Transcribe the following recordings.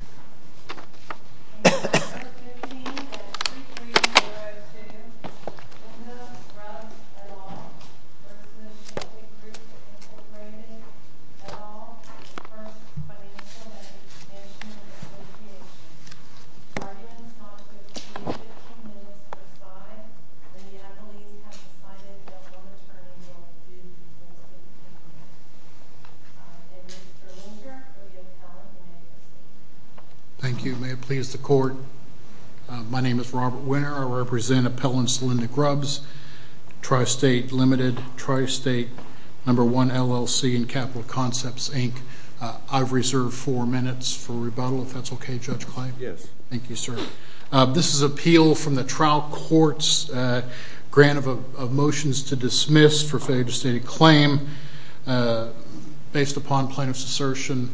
A.D. 6th, 2015 At 2302 – Krishna Grubbs et al. firm's lich seeke Sheakley Group Inc. et al, the first financial entity mentioned in li issue. Guardian departments or the threwn due 15 minutes or 5, many I believe have decided they'll go materially new until their findings come from us. A.D. 6th, 2015 At 2302 – Krishna Grubbs et al. firm's lich seeke Thank you. May it please the court. My name is Robert Winner. I represent Appellants Linda Grubbs, Tri-State Limited, Tri-State No. 1 LLC and Capital Concepts, Inc. I've reserved 4 minutes for rebuttal, if that's okay, Judge Kline? Yes. Thank you, sir. This is appeal from the trial court's grant of motions to dismiss for failure to state a claim based upon plaintiff's assertion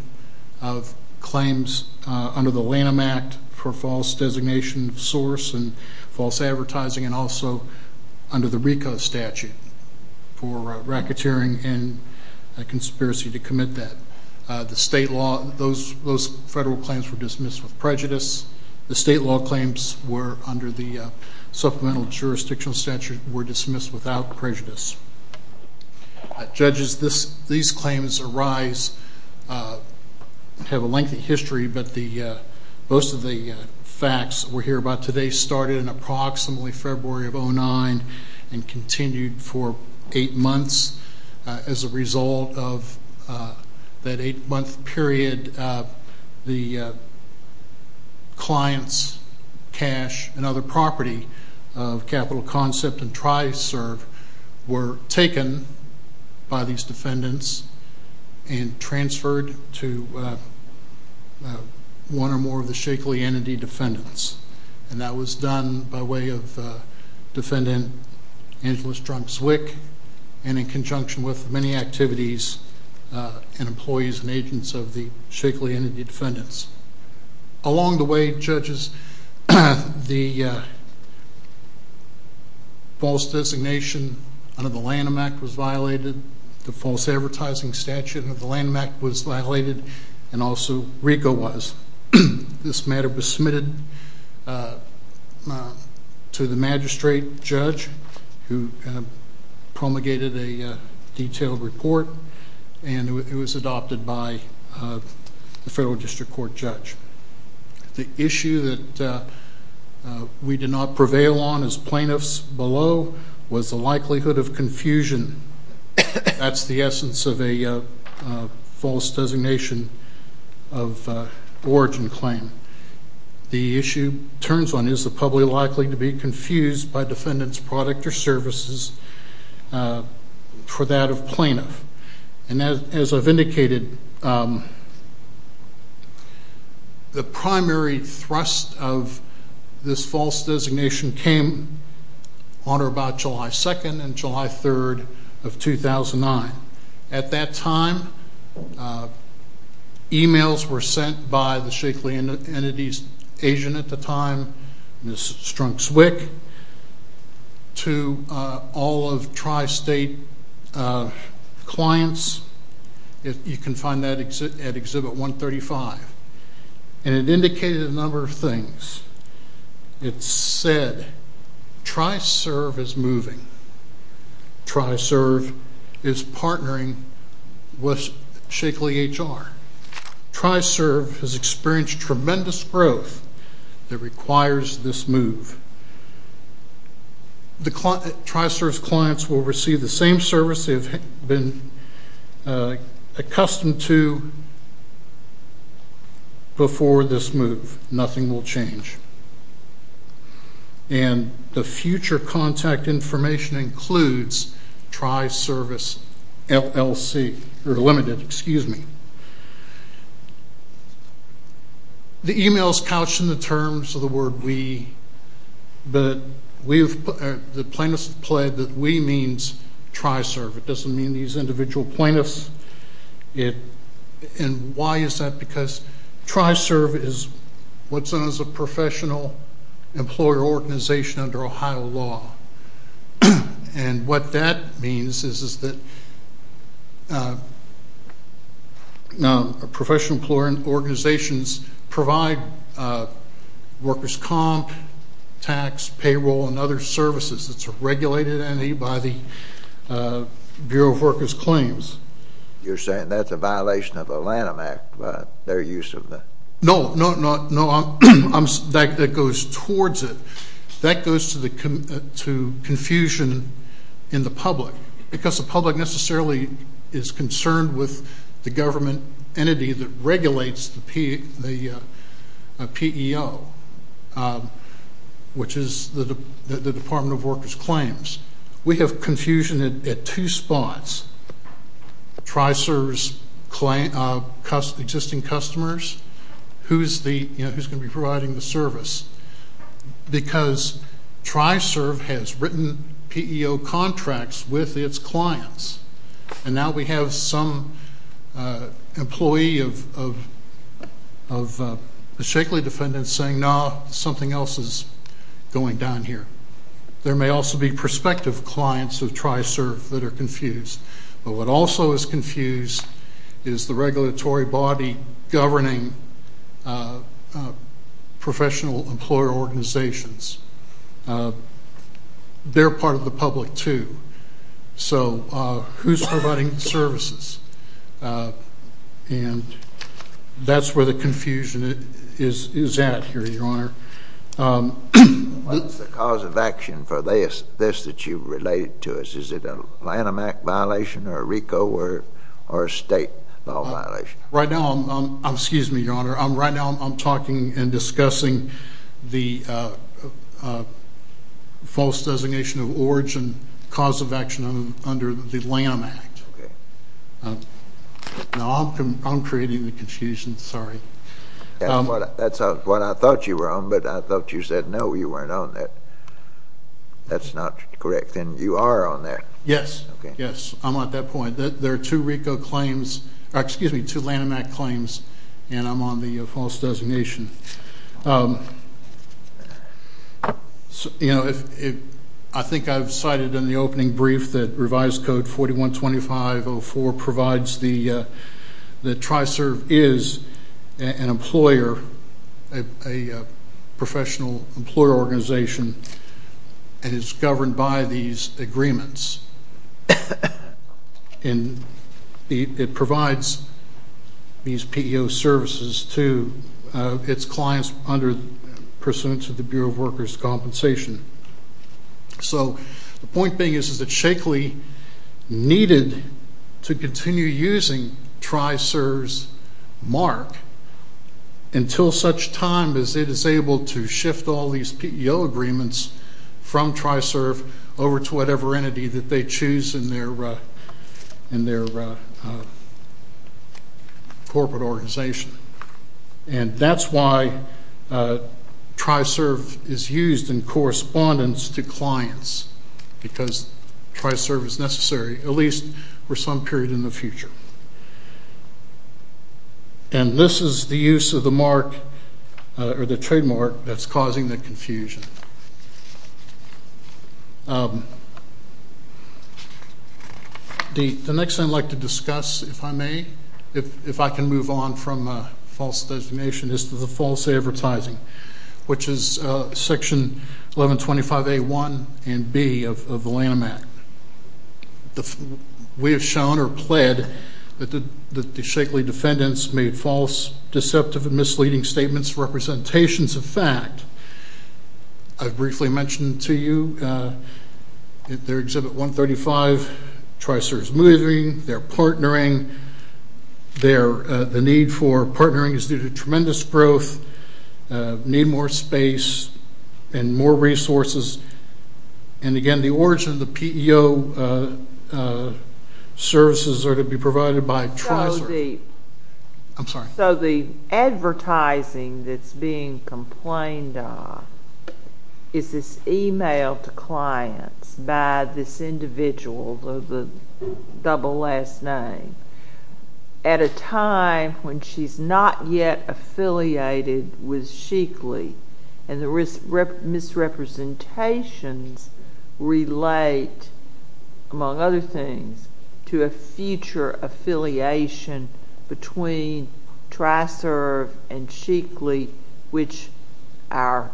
of claims under the Lanham Act for false designation of source and false advertising and also under the RICO statute for racketeering and conspiracy to commit that. The state law, those federal claims were dismissed with prejudice. The state law claims were under the supplemental jurisdictional statute were dismissed without prejudice. Judges, these claims arise, have a lengthy history, but most of the facts we'll hear about today started in approximately February of 2009 and continued for 8 months as a result of that 8-month period, the clients' cash and other property of Capital Concept and Tri-Serve were taken by these defendants and transferred to one or more of the Shakeley Entity defendants. And that was done by way of Defendant Angela Strunk-Zwick and conjunction with many activities and employees and agents of the Shakeley Entity defendants. Along the way, judges, the false designation under the Lanham Act was violated, the false advertising statute under the Lanham Act was violated and also RICO was. This matter was submitted to the magistrate judge who promulgated a detailed report and it was adopted by the federal district court judge. The issue that we did not prevail on as plaintiffs below was the likelihood of confusion. That's the essence of a false designation of origin claim. The issue turns on is the public likely to be confused by defendant's product or services for that of plaintiff. And as I've indicated, the primary thrust of this false designation came on or about July 2nd and July 3rd of 2009. At that time, emails were sent by the Shakeley Entity's agent at the time, Ms. Strunk-Zwick, to all of Tri-State clients. You can find that at Exhibit 135. And it indicated a number of things. It said Tri-Serve is moving. Tri-Serve is partnering with Shakeley HR. Tri-Serve has been accustomed to before this move. Nothing will change. And the future contact information includes Tri-Service LLC, or limited, excuse me. The emails couched in the terms of the word we, but the plaintiffs pled that we means Tri-Serve. It doesn't mean these individual plaintiffs. And why is that? Because Tri-Serve is what's known as a professional employer organization under Ohio law. And what that means is that professional employer organizations provide workers' comp, tax, payroll, and other services. It's a regulated entity by the Bureau of Workers' Claims. You're saying that's a violation of the Lanham Act, their use of the... No, no, no. That goes towards it. That goes to confusion in the public, because the public necessarily is concerned with the government entity that regulates the PEO, which is the Department of Workers' Claims. We have confusion at two spots. Tri-Serve's existing customers, who's going to be providing the service, because Tri-Serve has written PEO contracts with its clients. And now we have some employee of the Shakley defendant saying, no, something else is going down here. There may also be prospective clients of Tri-Serve that are confused. But what also is confusing is professional employer organizations. They're part of the public, too. So who's providing the services? And that's where the confusion is at here, Your Honor. What's the cause of action for this that you've related to us? Is it a Lanham Act violation or a RICO or a state law violation? Right now, I'm... Excuse me, Your Honor. Right now, I'm talking and discussing the false designation of origin, cause of action under the Lanham Act. Okay. Now, I'm creating the confusion. Sorry. That's what I thought you were on, but I thought you said, no, you weren't on that. That's not correct. And you are on that. Yes. Okay. Yes. I'm at that point. There are two RICO claims... Excuse me, two Lanham Act claims, and I'm on the false designation. I think I've cited in the opening brief that revised code 4125.04 provides the... The Tri-Serve is an employer, a professional employer organization, and it's governed by these agreements. And it provides these PEO services to its clients under pursuance of the Bureau of Workers' Compensation. So the point being is that Shakely needed to continue using Tri-Serve's mark until such time as it is able to shift all these PEO agreements from Tri-Serve over to whatever entity that they choose in their corporate organization. And that's why Tri-Serve is used in correspondence to clients, because Tri-Serve is necessary, at least for some period in the future. And this is the use of the mark or the trademark that's causing the confusion. The next thing I'd like to discuss, if I may, if I can move on from false designation is to the false advertising, which is Section 1125A1 and B of the Lanham Act. We have shown or pled that the Shakely defendants made false, deceptive, and misleading statements, representations of fact. I've briefly mentioned to you at their Exhibit 135, Tri-Serve's moving, they're partnering. The need for partnering is due to tremendous growth, need more space and more resources. And again, the origin of the PEO services are to be provided by Tri-Serve. I'm sorry. So the advertising that's being complained of is this email to clients by this individual, though the double last name, at a time when she's not yet affiliated with Shakely, and the misrepresentations relate, among other things, to a future affiliation between Tri-Serve and Shakely, which our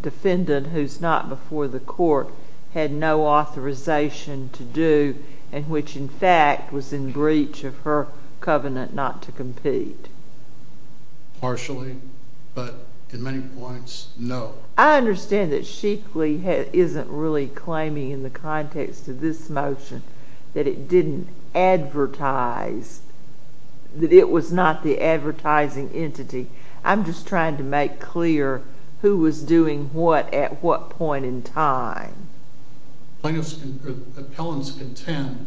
defendant, who's not before the court, had no authorization to do, and which, in fact, was in breach of her covenant not to compete. Partially, but in many points, no. I understand that Shakely isn't really claiming in the context of this motion that it didn't advertise, that it was not the advertising entity. I'm just trying to make clear who was doing what at what point in time. Plaintiffs' appellants contend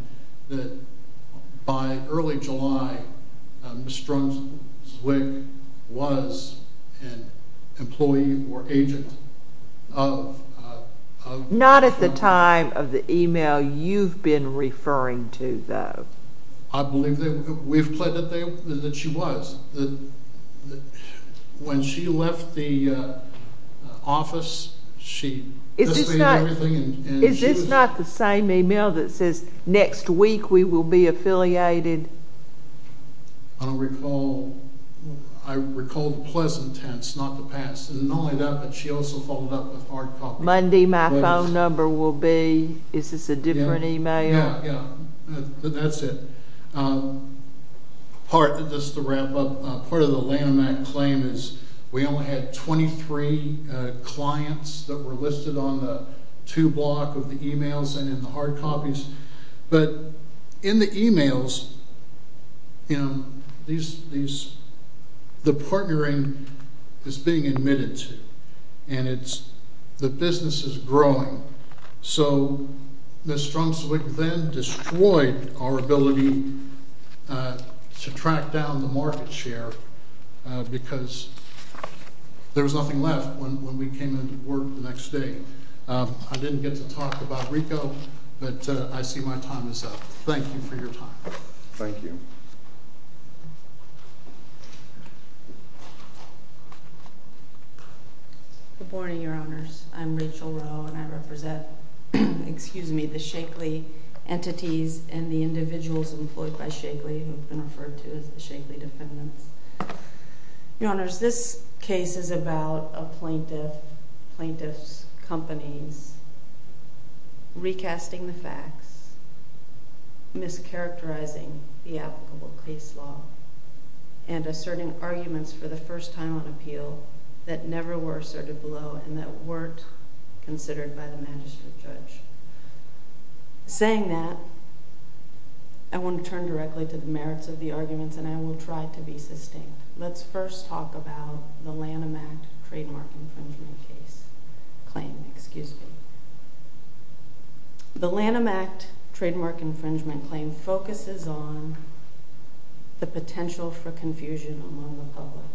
that by early July, Ms. Strunk-Zwick was an employee or agent of... Not at the time of the email you've been referring to, though. I believe that we've pledged that she was. When she left the office, she displayed everything... Is this not the same email that says, next week we will be affiliated? I don't recall. I recall the pleasant tense, not the past, and not only that, but she also followed up with hard copy. Monday, my phone number will be... Is this a different email? Yeah, that's it. Part of the Lanham Act claim is we only had 23 clients that were listed on the two block of the emails and in the hard copies. But in the emails, the partnering is being admitted to, and the business is growing. So, Ms. Strunk-Zwick then destroyed our ability to track down the market share because there was nothing left when we came into work the next day. I didn't get to talk about RICO, but I see my time is up. Thank you for your time. Thank you. Good morning, Your Honors. I'm Rachel Rowe, and I represent, excuse me, the Shakely entities and the individuals employed by Shakely, who have been referred to as the Shakely defendants. Your Honors, this case is about a plaintiff's companies recasting the facts, mischaracterizing the applicable case law, and asserting arguments for the first time on appeal that never were asserted below and that weren't considered by the magistrate judge. Saying that, I want to turn directly to the merits of the arguments, and I will try to be sustained. Let's first talk about the Lanham Act Trademark Infringement Claim. The Lanham Act Trademark Infringement Claim focuses on the potential for confusion among the public.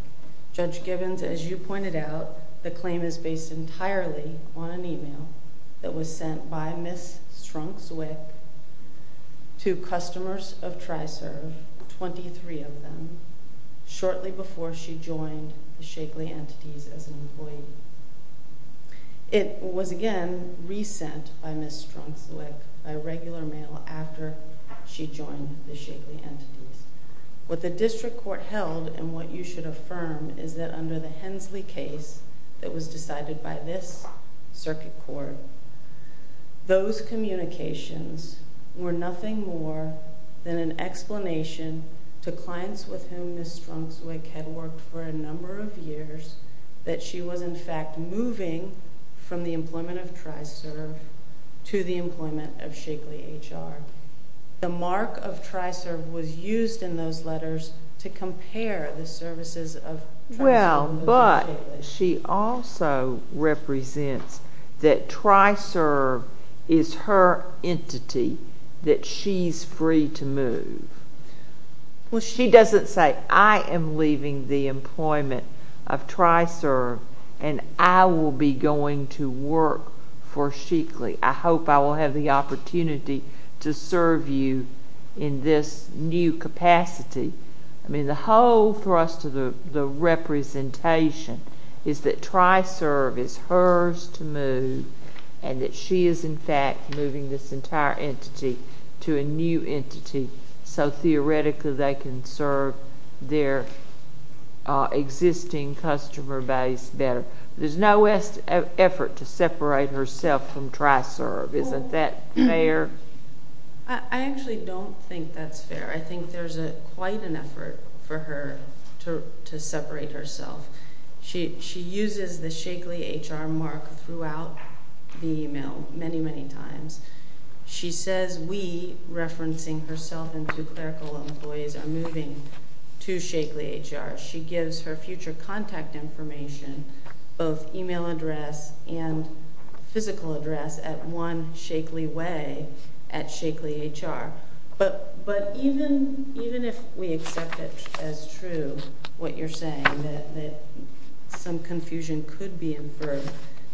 Judge Gibbons, as you pointed out, the claim is based entirely on an email that was sent by Ms. Strunk-Zwick to customers of TriServe, 23 of them, shortly before she joined the Shakely entities as an employee. It was, again, re-sent by Ms. Strunk-Zwick by regular mail after she joined the Shakely entities. What the district court held, and what you should affirm, is that under the Hensley case that was decided by this circuit court, those communications were nothing more than an explanation to clients with whom Ms. Strunk-Zwick had worked for a number of years that she was, in fact, moving from the employment of TriServe to the employment of Shakely HR. The mark of TriServe was used in those letters to compare the services of TriServe with Shakely. Well, but she also represents that TriServe is her entity that she's free to move. Well, she doesn't say, I am leaving the employment of TriServe and I will be going to work for Shakely. I hope I will have the opportunity to serve you in this new capacity. I mean, the whole thrust of the representation is that TriServe is hers to move, and that she is, in fact, moving this entire entity to a new entity, so theoretically they can serve their existing customer base better. There's no effort to separate herself from TriServe. Isn't that fair? I actually don't think that's fair. I think there's quite an effort for her to separate herself. She uses the Shakely HR mark throughout the email many, many times. She says, we, referencing herself and two clerical employees, are moving to Shakely HR. She gives her future contact information, both email address and physical address, at one Shakely Way at Shakely HR. But even if we accept it as true, what you're saying, that some confusion could be inferred,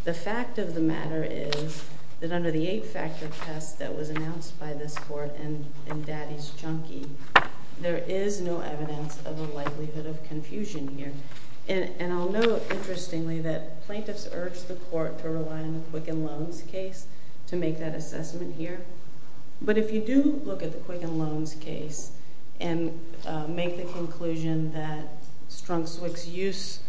the fact of the matter is that under the eight-factor test that was announced by this Court in Daddy's Junkie, there is no evidence of a likelihood of confusion here. And I'll note, interestingly, that plaintiffs urged the Court to rely on the Quicken Loans case to make that assessment here. But if you do look at the Quicken Loans case and make the conclusion that Strunk-Swick's use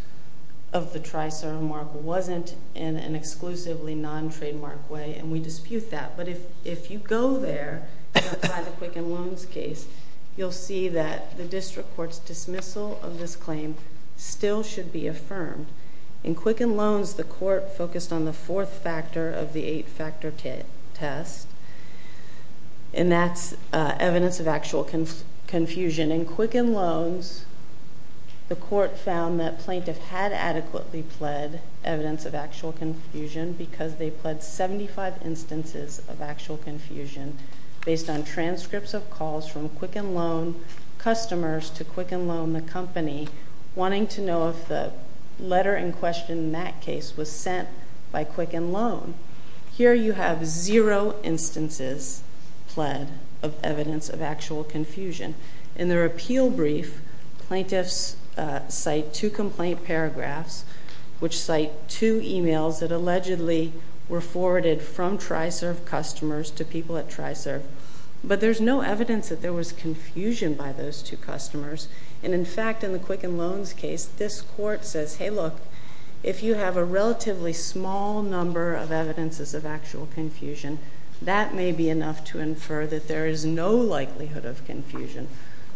of the TriServe mark wasn't in an exclusively non-trademark way, and we dispute that, but if you go there and apply the Quicken Loans case, you'll see that the district court's dismissal of this claim still should be affirmed. In Quicken Loans, the Court focused on the fourth factor of the eight-factor test, and that's evidence of actual confusion. In Quicken Loans, the Court found that plaintiff had adequately pled evidence of actual confusion because they pled 75 instances of actual confusion based on transcripts of calls from Quicken Loan customers to Quicken Loan, the company, wanting to know if the letter in question in that case was sent by Quicken Loan. Here, you have zero instances pled of evidence of actual confusion. In their two complaint paragraphs, which cite two emails that allegedly were forwarded from TriServe customers to people at TriServe, but there's no evidence that there was confusion by those two customers. And in fact, in the Quicken Loans case, this Court says, hey, look, if you have a relatively small number of evidences of actual confusion, that may be enough to infer that there is no likelihood of confusion.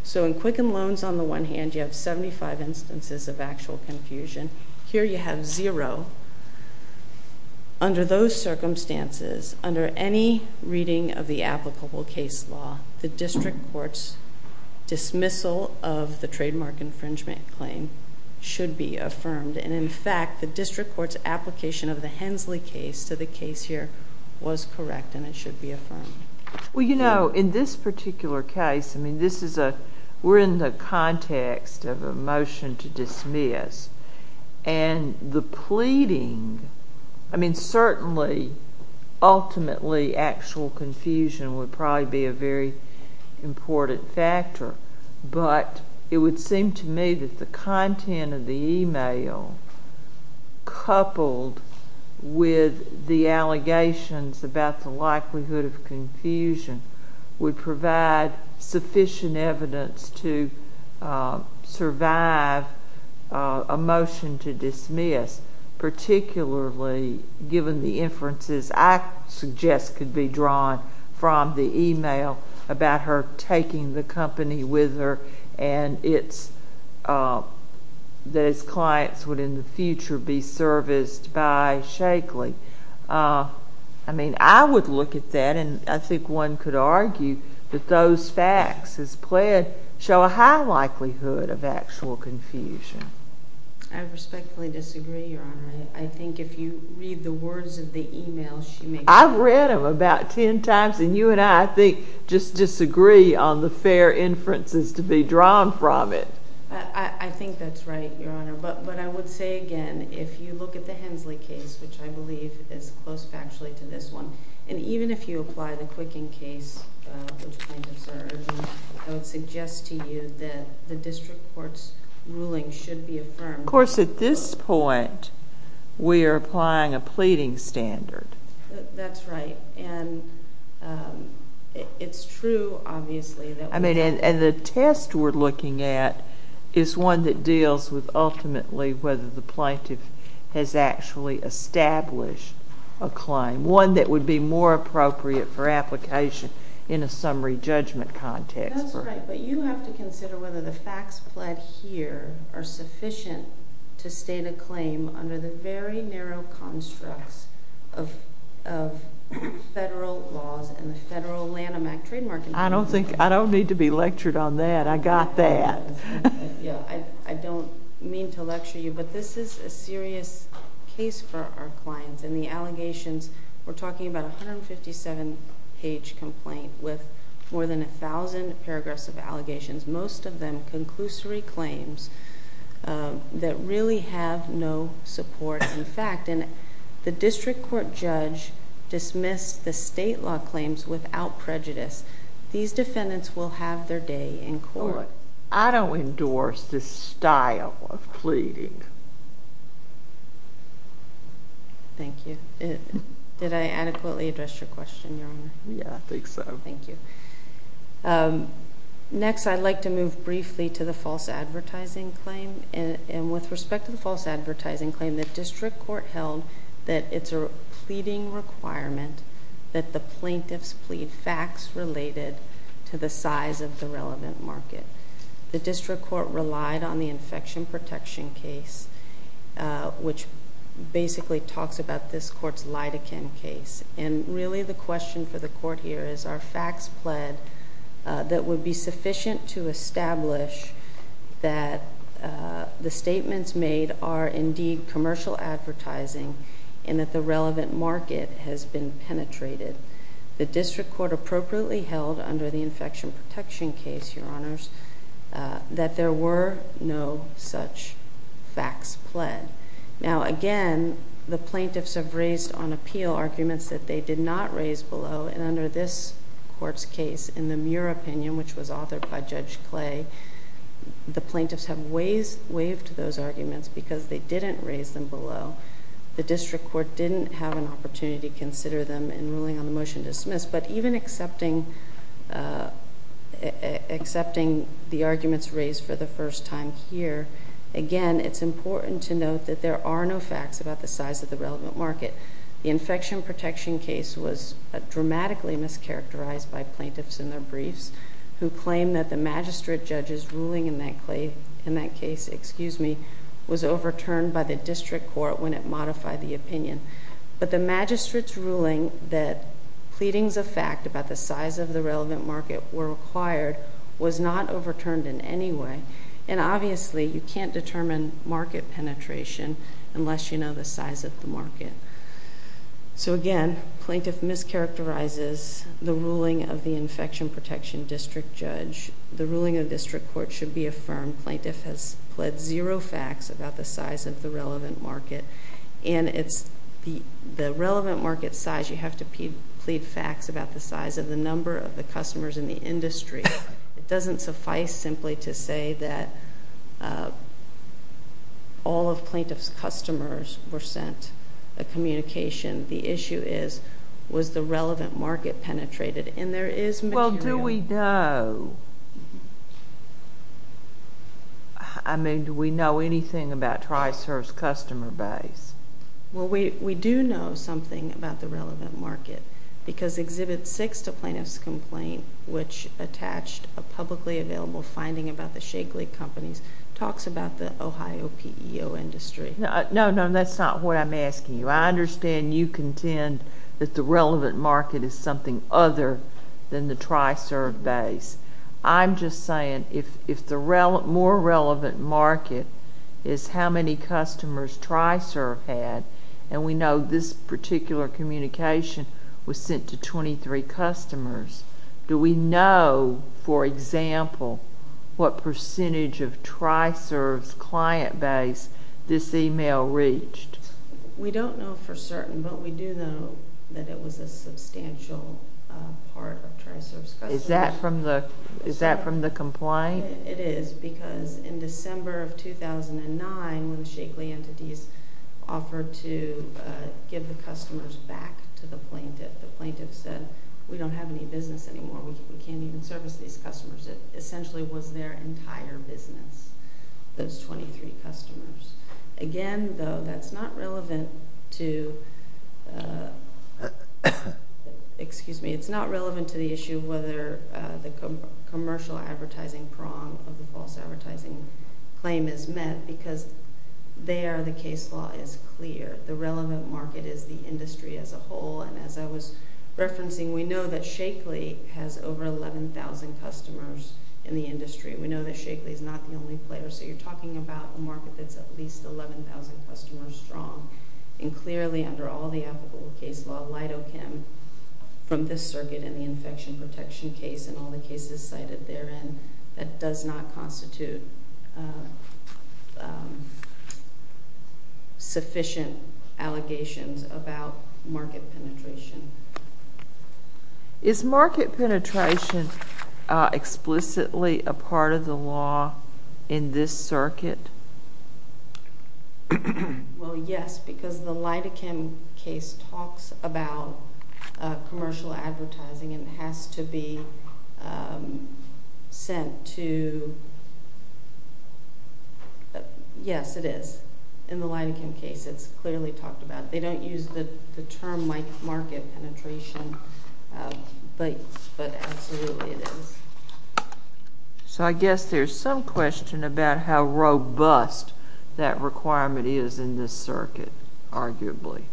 So in Quicken Loans, on the one hand, you have 75 instances of actual confusion. Here, you have zero. Under those circumstances, under any reading of the applicable case law, the district court's dismissal of the trademark infringement claim should be affirmed. And in fact, the district court's application of the Hensley case to the case here was correct and it should be affirmed. Well, you know, in this particular case, I mean, this is a, we're in the context of a motion to dismiss. And the pleading, I mean, certainly, ultimately, actual confusion would probably be a very important factor. But it would seem to me that the content of the email coupled with the confusion would provide sufficient evidence to survive a motion to dismiss, particularly given the inferences I suggest could be drawn from the email about her taking the company with her and that its clients would, in the future, be serviced by Shakely. I mean, I would look at that. And I think one could argue that those facts as pled show a high likelihood of actual confusion. I respectfully disagree, Your Honor. I think if you read the words of the email, she may... I've read them about ten times and you and I, I think, just disagree on the fair inferences to be drawn from it. I think that's right, Your Honor. But I would say again, if you look at the Hensley case, which I believe is close factually to this one, and even if you apply the Quicken case, which plaintiffs are, I would suggest to you that the district court's ruling should be affirmed. Of course, at this point, we are applying a pleading standard. That's right. And it's true, obviously, that... I mean, and the test we're looking at is one that deals with, ultimately, whether the plaintiff has actually established a claim, one that would be more appropriate for application in a summary judgment context. That's right, but you have to consider whether the facts pled here are sufficient to state a claim under the very narrow constructs of federal laws and the federal Lanham Act trademark enforcement. I don't think... I don't need to be lectured on that. I got that. Yeah, I don't mean to lecture you, but this is a serious case for our clients, and the allegations, we're talking about a 157 page complaint with more than 1,000 paragraphs of allegations, most of them conclusory claims that really have no support in fact, and the district court judge dismissed the state law claims without prejudice. These defendants will have their day in court. I don't endorse this style of pleading. Thank you. Did I adequately address your question, Your Honor? Yeah, I think so. Thank you. Next, I'd like to move briefly to the false advertising claim, and with respect to the false advertising claim, the district court held that it's a pleading requirement that the plaintiffs plead facts related to the size of the relevant market. The district court relied on the infection protection case, which basically talks about this court's lidocaine case, and really the question for the court here is, are facts pled that would be sufficient to establish that the statements made are indeed commercial advertising, and that the relevant market has been penetrated. The district court appropriately held under the infection protection case, Your Honors, that there were no such facts pled. Now, again, the plaintiffs have raised on appeal arguments that they did not raise below, and under this court's case, in the Muir opinion, which was authored by Judge Clay, the plaintiffs have waived those arguments because they didn't raise them below. The district court didn't have an opportunity to consider them in accepting the arguments raised for the first time here. Again, it's important to note that there are no facts about the size of the relevant market. The infection protection case was dramatically mischaracterized by plaintiffs in their briefs, who claimed that the magistrate judge's ruling in that case was overturned by the district court when it modified the size of the relevant market were required, was not overturned in any way. And obviously, you can't determine market penetration unless you know the size of the market. So again, plaintiff mischaracterizes the ruling of the infection protection district judge. The ruling of the district court should be affirmed. Plaintiff has pled zero facts about the size of the relevant market. And it's the relevant market size, you have to plead facts about the size of the number of the customers in the industry. It doesn't suffice simply to say that all of plaintiff's customers were sent a communication. The issue is, was the relevant market penetrated? And there is material... Well, do we know? I mean, do we know anything about TriServe's customer base? Well, we do know something about the relevant market, because Exhibit 6, the plaintiff's complaint, which attached a publicly available finding about the Shagley companies, talks about the Ohio PEO industry. No, no, that's not what I'm asking you. I understand you contend that the relevant market is something other than the TriServe base. I'm just saying, if the more relevant market is how many customers TriServe had, and we know this particular communication was sent to 23 customers, do we know, for example, what percentage of TriServe's client base this email reached? We don't know for certain, but we do know that it was a substantial part of TriServe's customers. Is that from the... Is that from the complaint? It is, because in December of 2009, when the Shagley entities offered to give the customers back to the plaintiff, the plaintiff said, We don't have any business anymore. We can't even service these customers. It essentially was their entire business, those 23 customers. Again, though, that's not relevant to... Excuse me. It's not relevant to the issue whether the commercial advertising prong of the false advertising claim is met, because there, the case law is clear. The relevant market is the industry as a whole, and as I was referencing, we know that Shagley has over 11,000 customers in the industry. We know that Shagley is not the only player, so you're talking about a market that's at least 11,000 customers strong. And clearly, under all the applicable case law, Lidochem, from this circuit and the infection protection case and all the cases cited therein, that does not constitute sufficient allegations about market penetration. Is market penetration explicitly a part of the law in this circuit? Well, yes, because the Lidochem case talks about commercial advertising, and it has to be sent to... Yes, it is. In the Lidochem case, it's clearly talked about. They don't use the term market penetration, but absolutely it is. So I guess there's some question about how robust that requirement is in this circuit, arguably.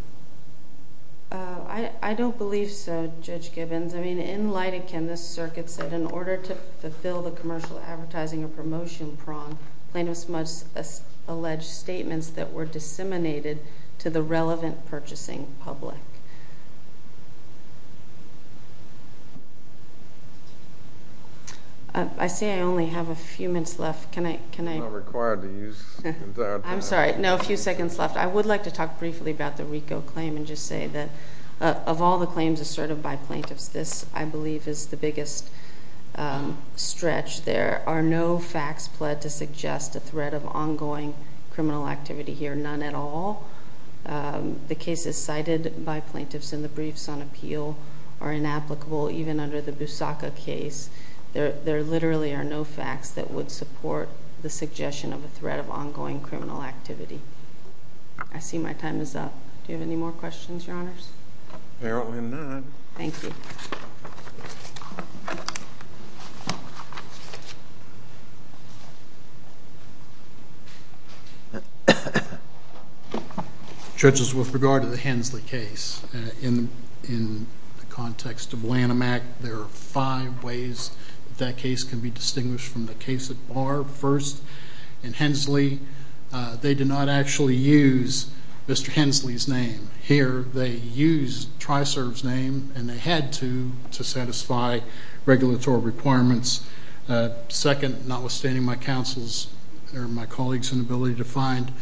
I don't believe so, Judge Gibbons. I mean, in Lidochem, this circuit said, in order to fulfill the commercial advertising or promotion prong, plaintiff must allege statements that were disseminated to the relevant purchasing public. I see I only have a few minutes left. Can I... You're not required to use the entire time. I'm sorry. No, a few seconds left. I would like to talk briefly about the RICO claim and just say that, of all the claims asserted by plaintiffs, this, I believe, is the biggest stretch. There are no facts pled to suggest a threat of ongoing criminal activity here, none at all. The cases cited by plaintiffs in the briefs on appeal are inapplicable, even under the Busaca case. There literally are no facts that would support the suggestion of a threat of ongoing criminal activity. I see my time is up. Do you have any more questions, Your Honors? Apparently not. Thank you. Judges, with regard to the Hensley case, in the context of Lanham Act, there are five ways that that case can be distinguished from the case at Barr. First, in Hensley, they did not actually use Mr. Hensley's name. Here, they used TRISERV's name, and they had to, to satisfy regulatory requirements. Second, notwithstanding my counsel's or my colleague's inability to find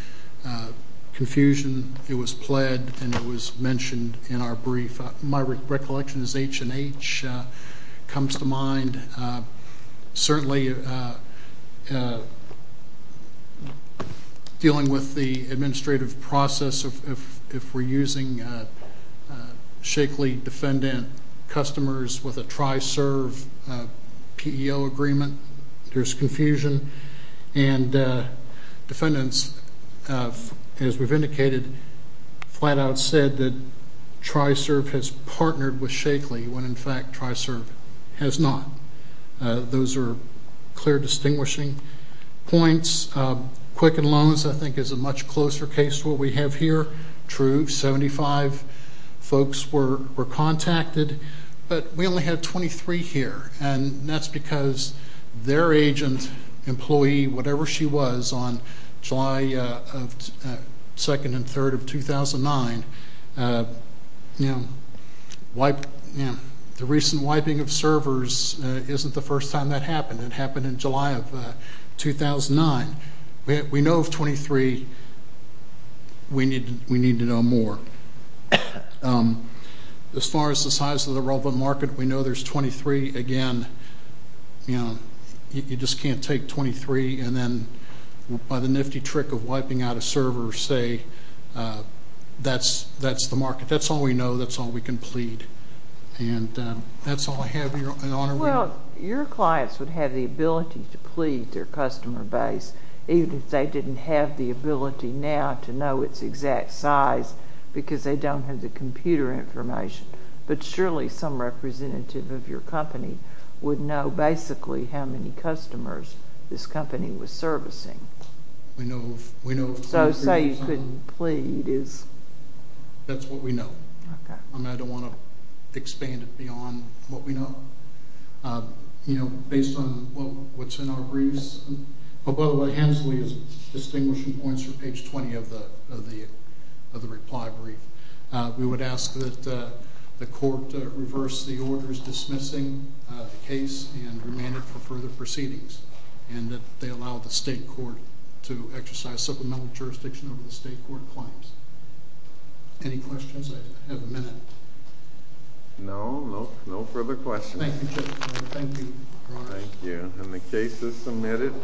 confusion, it was pled and it was mentioned in our brief. My recollection is H&H comes to mind. And certainly, dealing with the administrative process, if we're using Shakely defendant customers with a TRISERV PEO agreement, there's confusion. And defendants, as we've indicated, flat out said that TRISERV has partnered with Shakely, when in fact, TRISERV has not. Those are clear distinguishing points. Quicken Loans, I think, is a much closer case to what we have here. True, 75 folks were contacted, but we only had 23 here, and that's because their agent, employee, whatever she was, on July of, second and third of 2009, the recent wiping of servers isn't the first time that happened. It happened in July of 2009. We know of 23. We need to know more. As far as the size of the relevant market, we know there's 23. Again, you just can't take 23 and then, by the nifty trick of wiping out a server, say, that's the market. That's all we know. That's all we can plead. And that's all I have, Your Honor. Well, your clients would have the ability to plead their customer base, even if they didn't have the ability now to know its exact size, because they don't have the computer information. But surely some representative of your company would know basically how many customers this company was servicing. We know of 23 or so. So say you couldn't plead is... That's what we know. Okay. And I don't wanna expand it beyond what we know. Based on what's in our briefs... Oh, by the way, Hensley is distinguishing points from page 20 of the reply brief. We would ask that the court reverse the orders dismissing the case and remand it for further proceedings, and that they allow the state court to exercise supplemental jurisdiction over the state court claims. Any questions? I have a minute. No, no further questions. Thank you, Judge. Thank you, Your Honor. Thank you. And the case is submitted.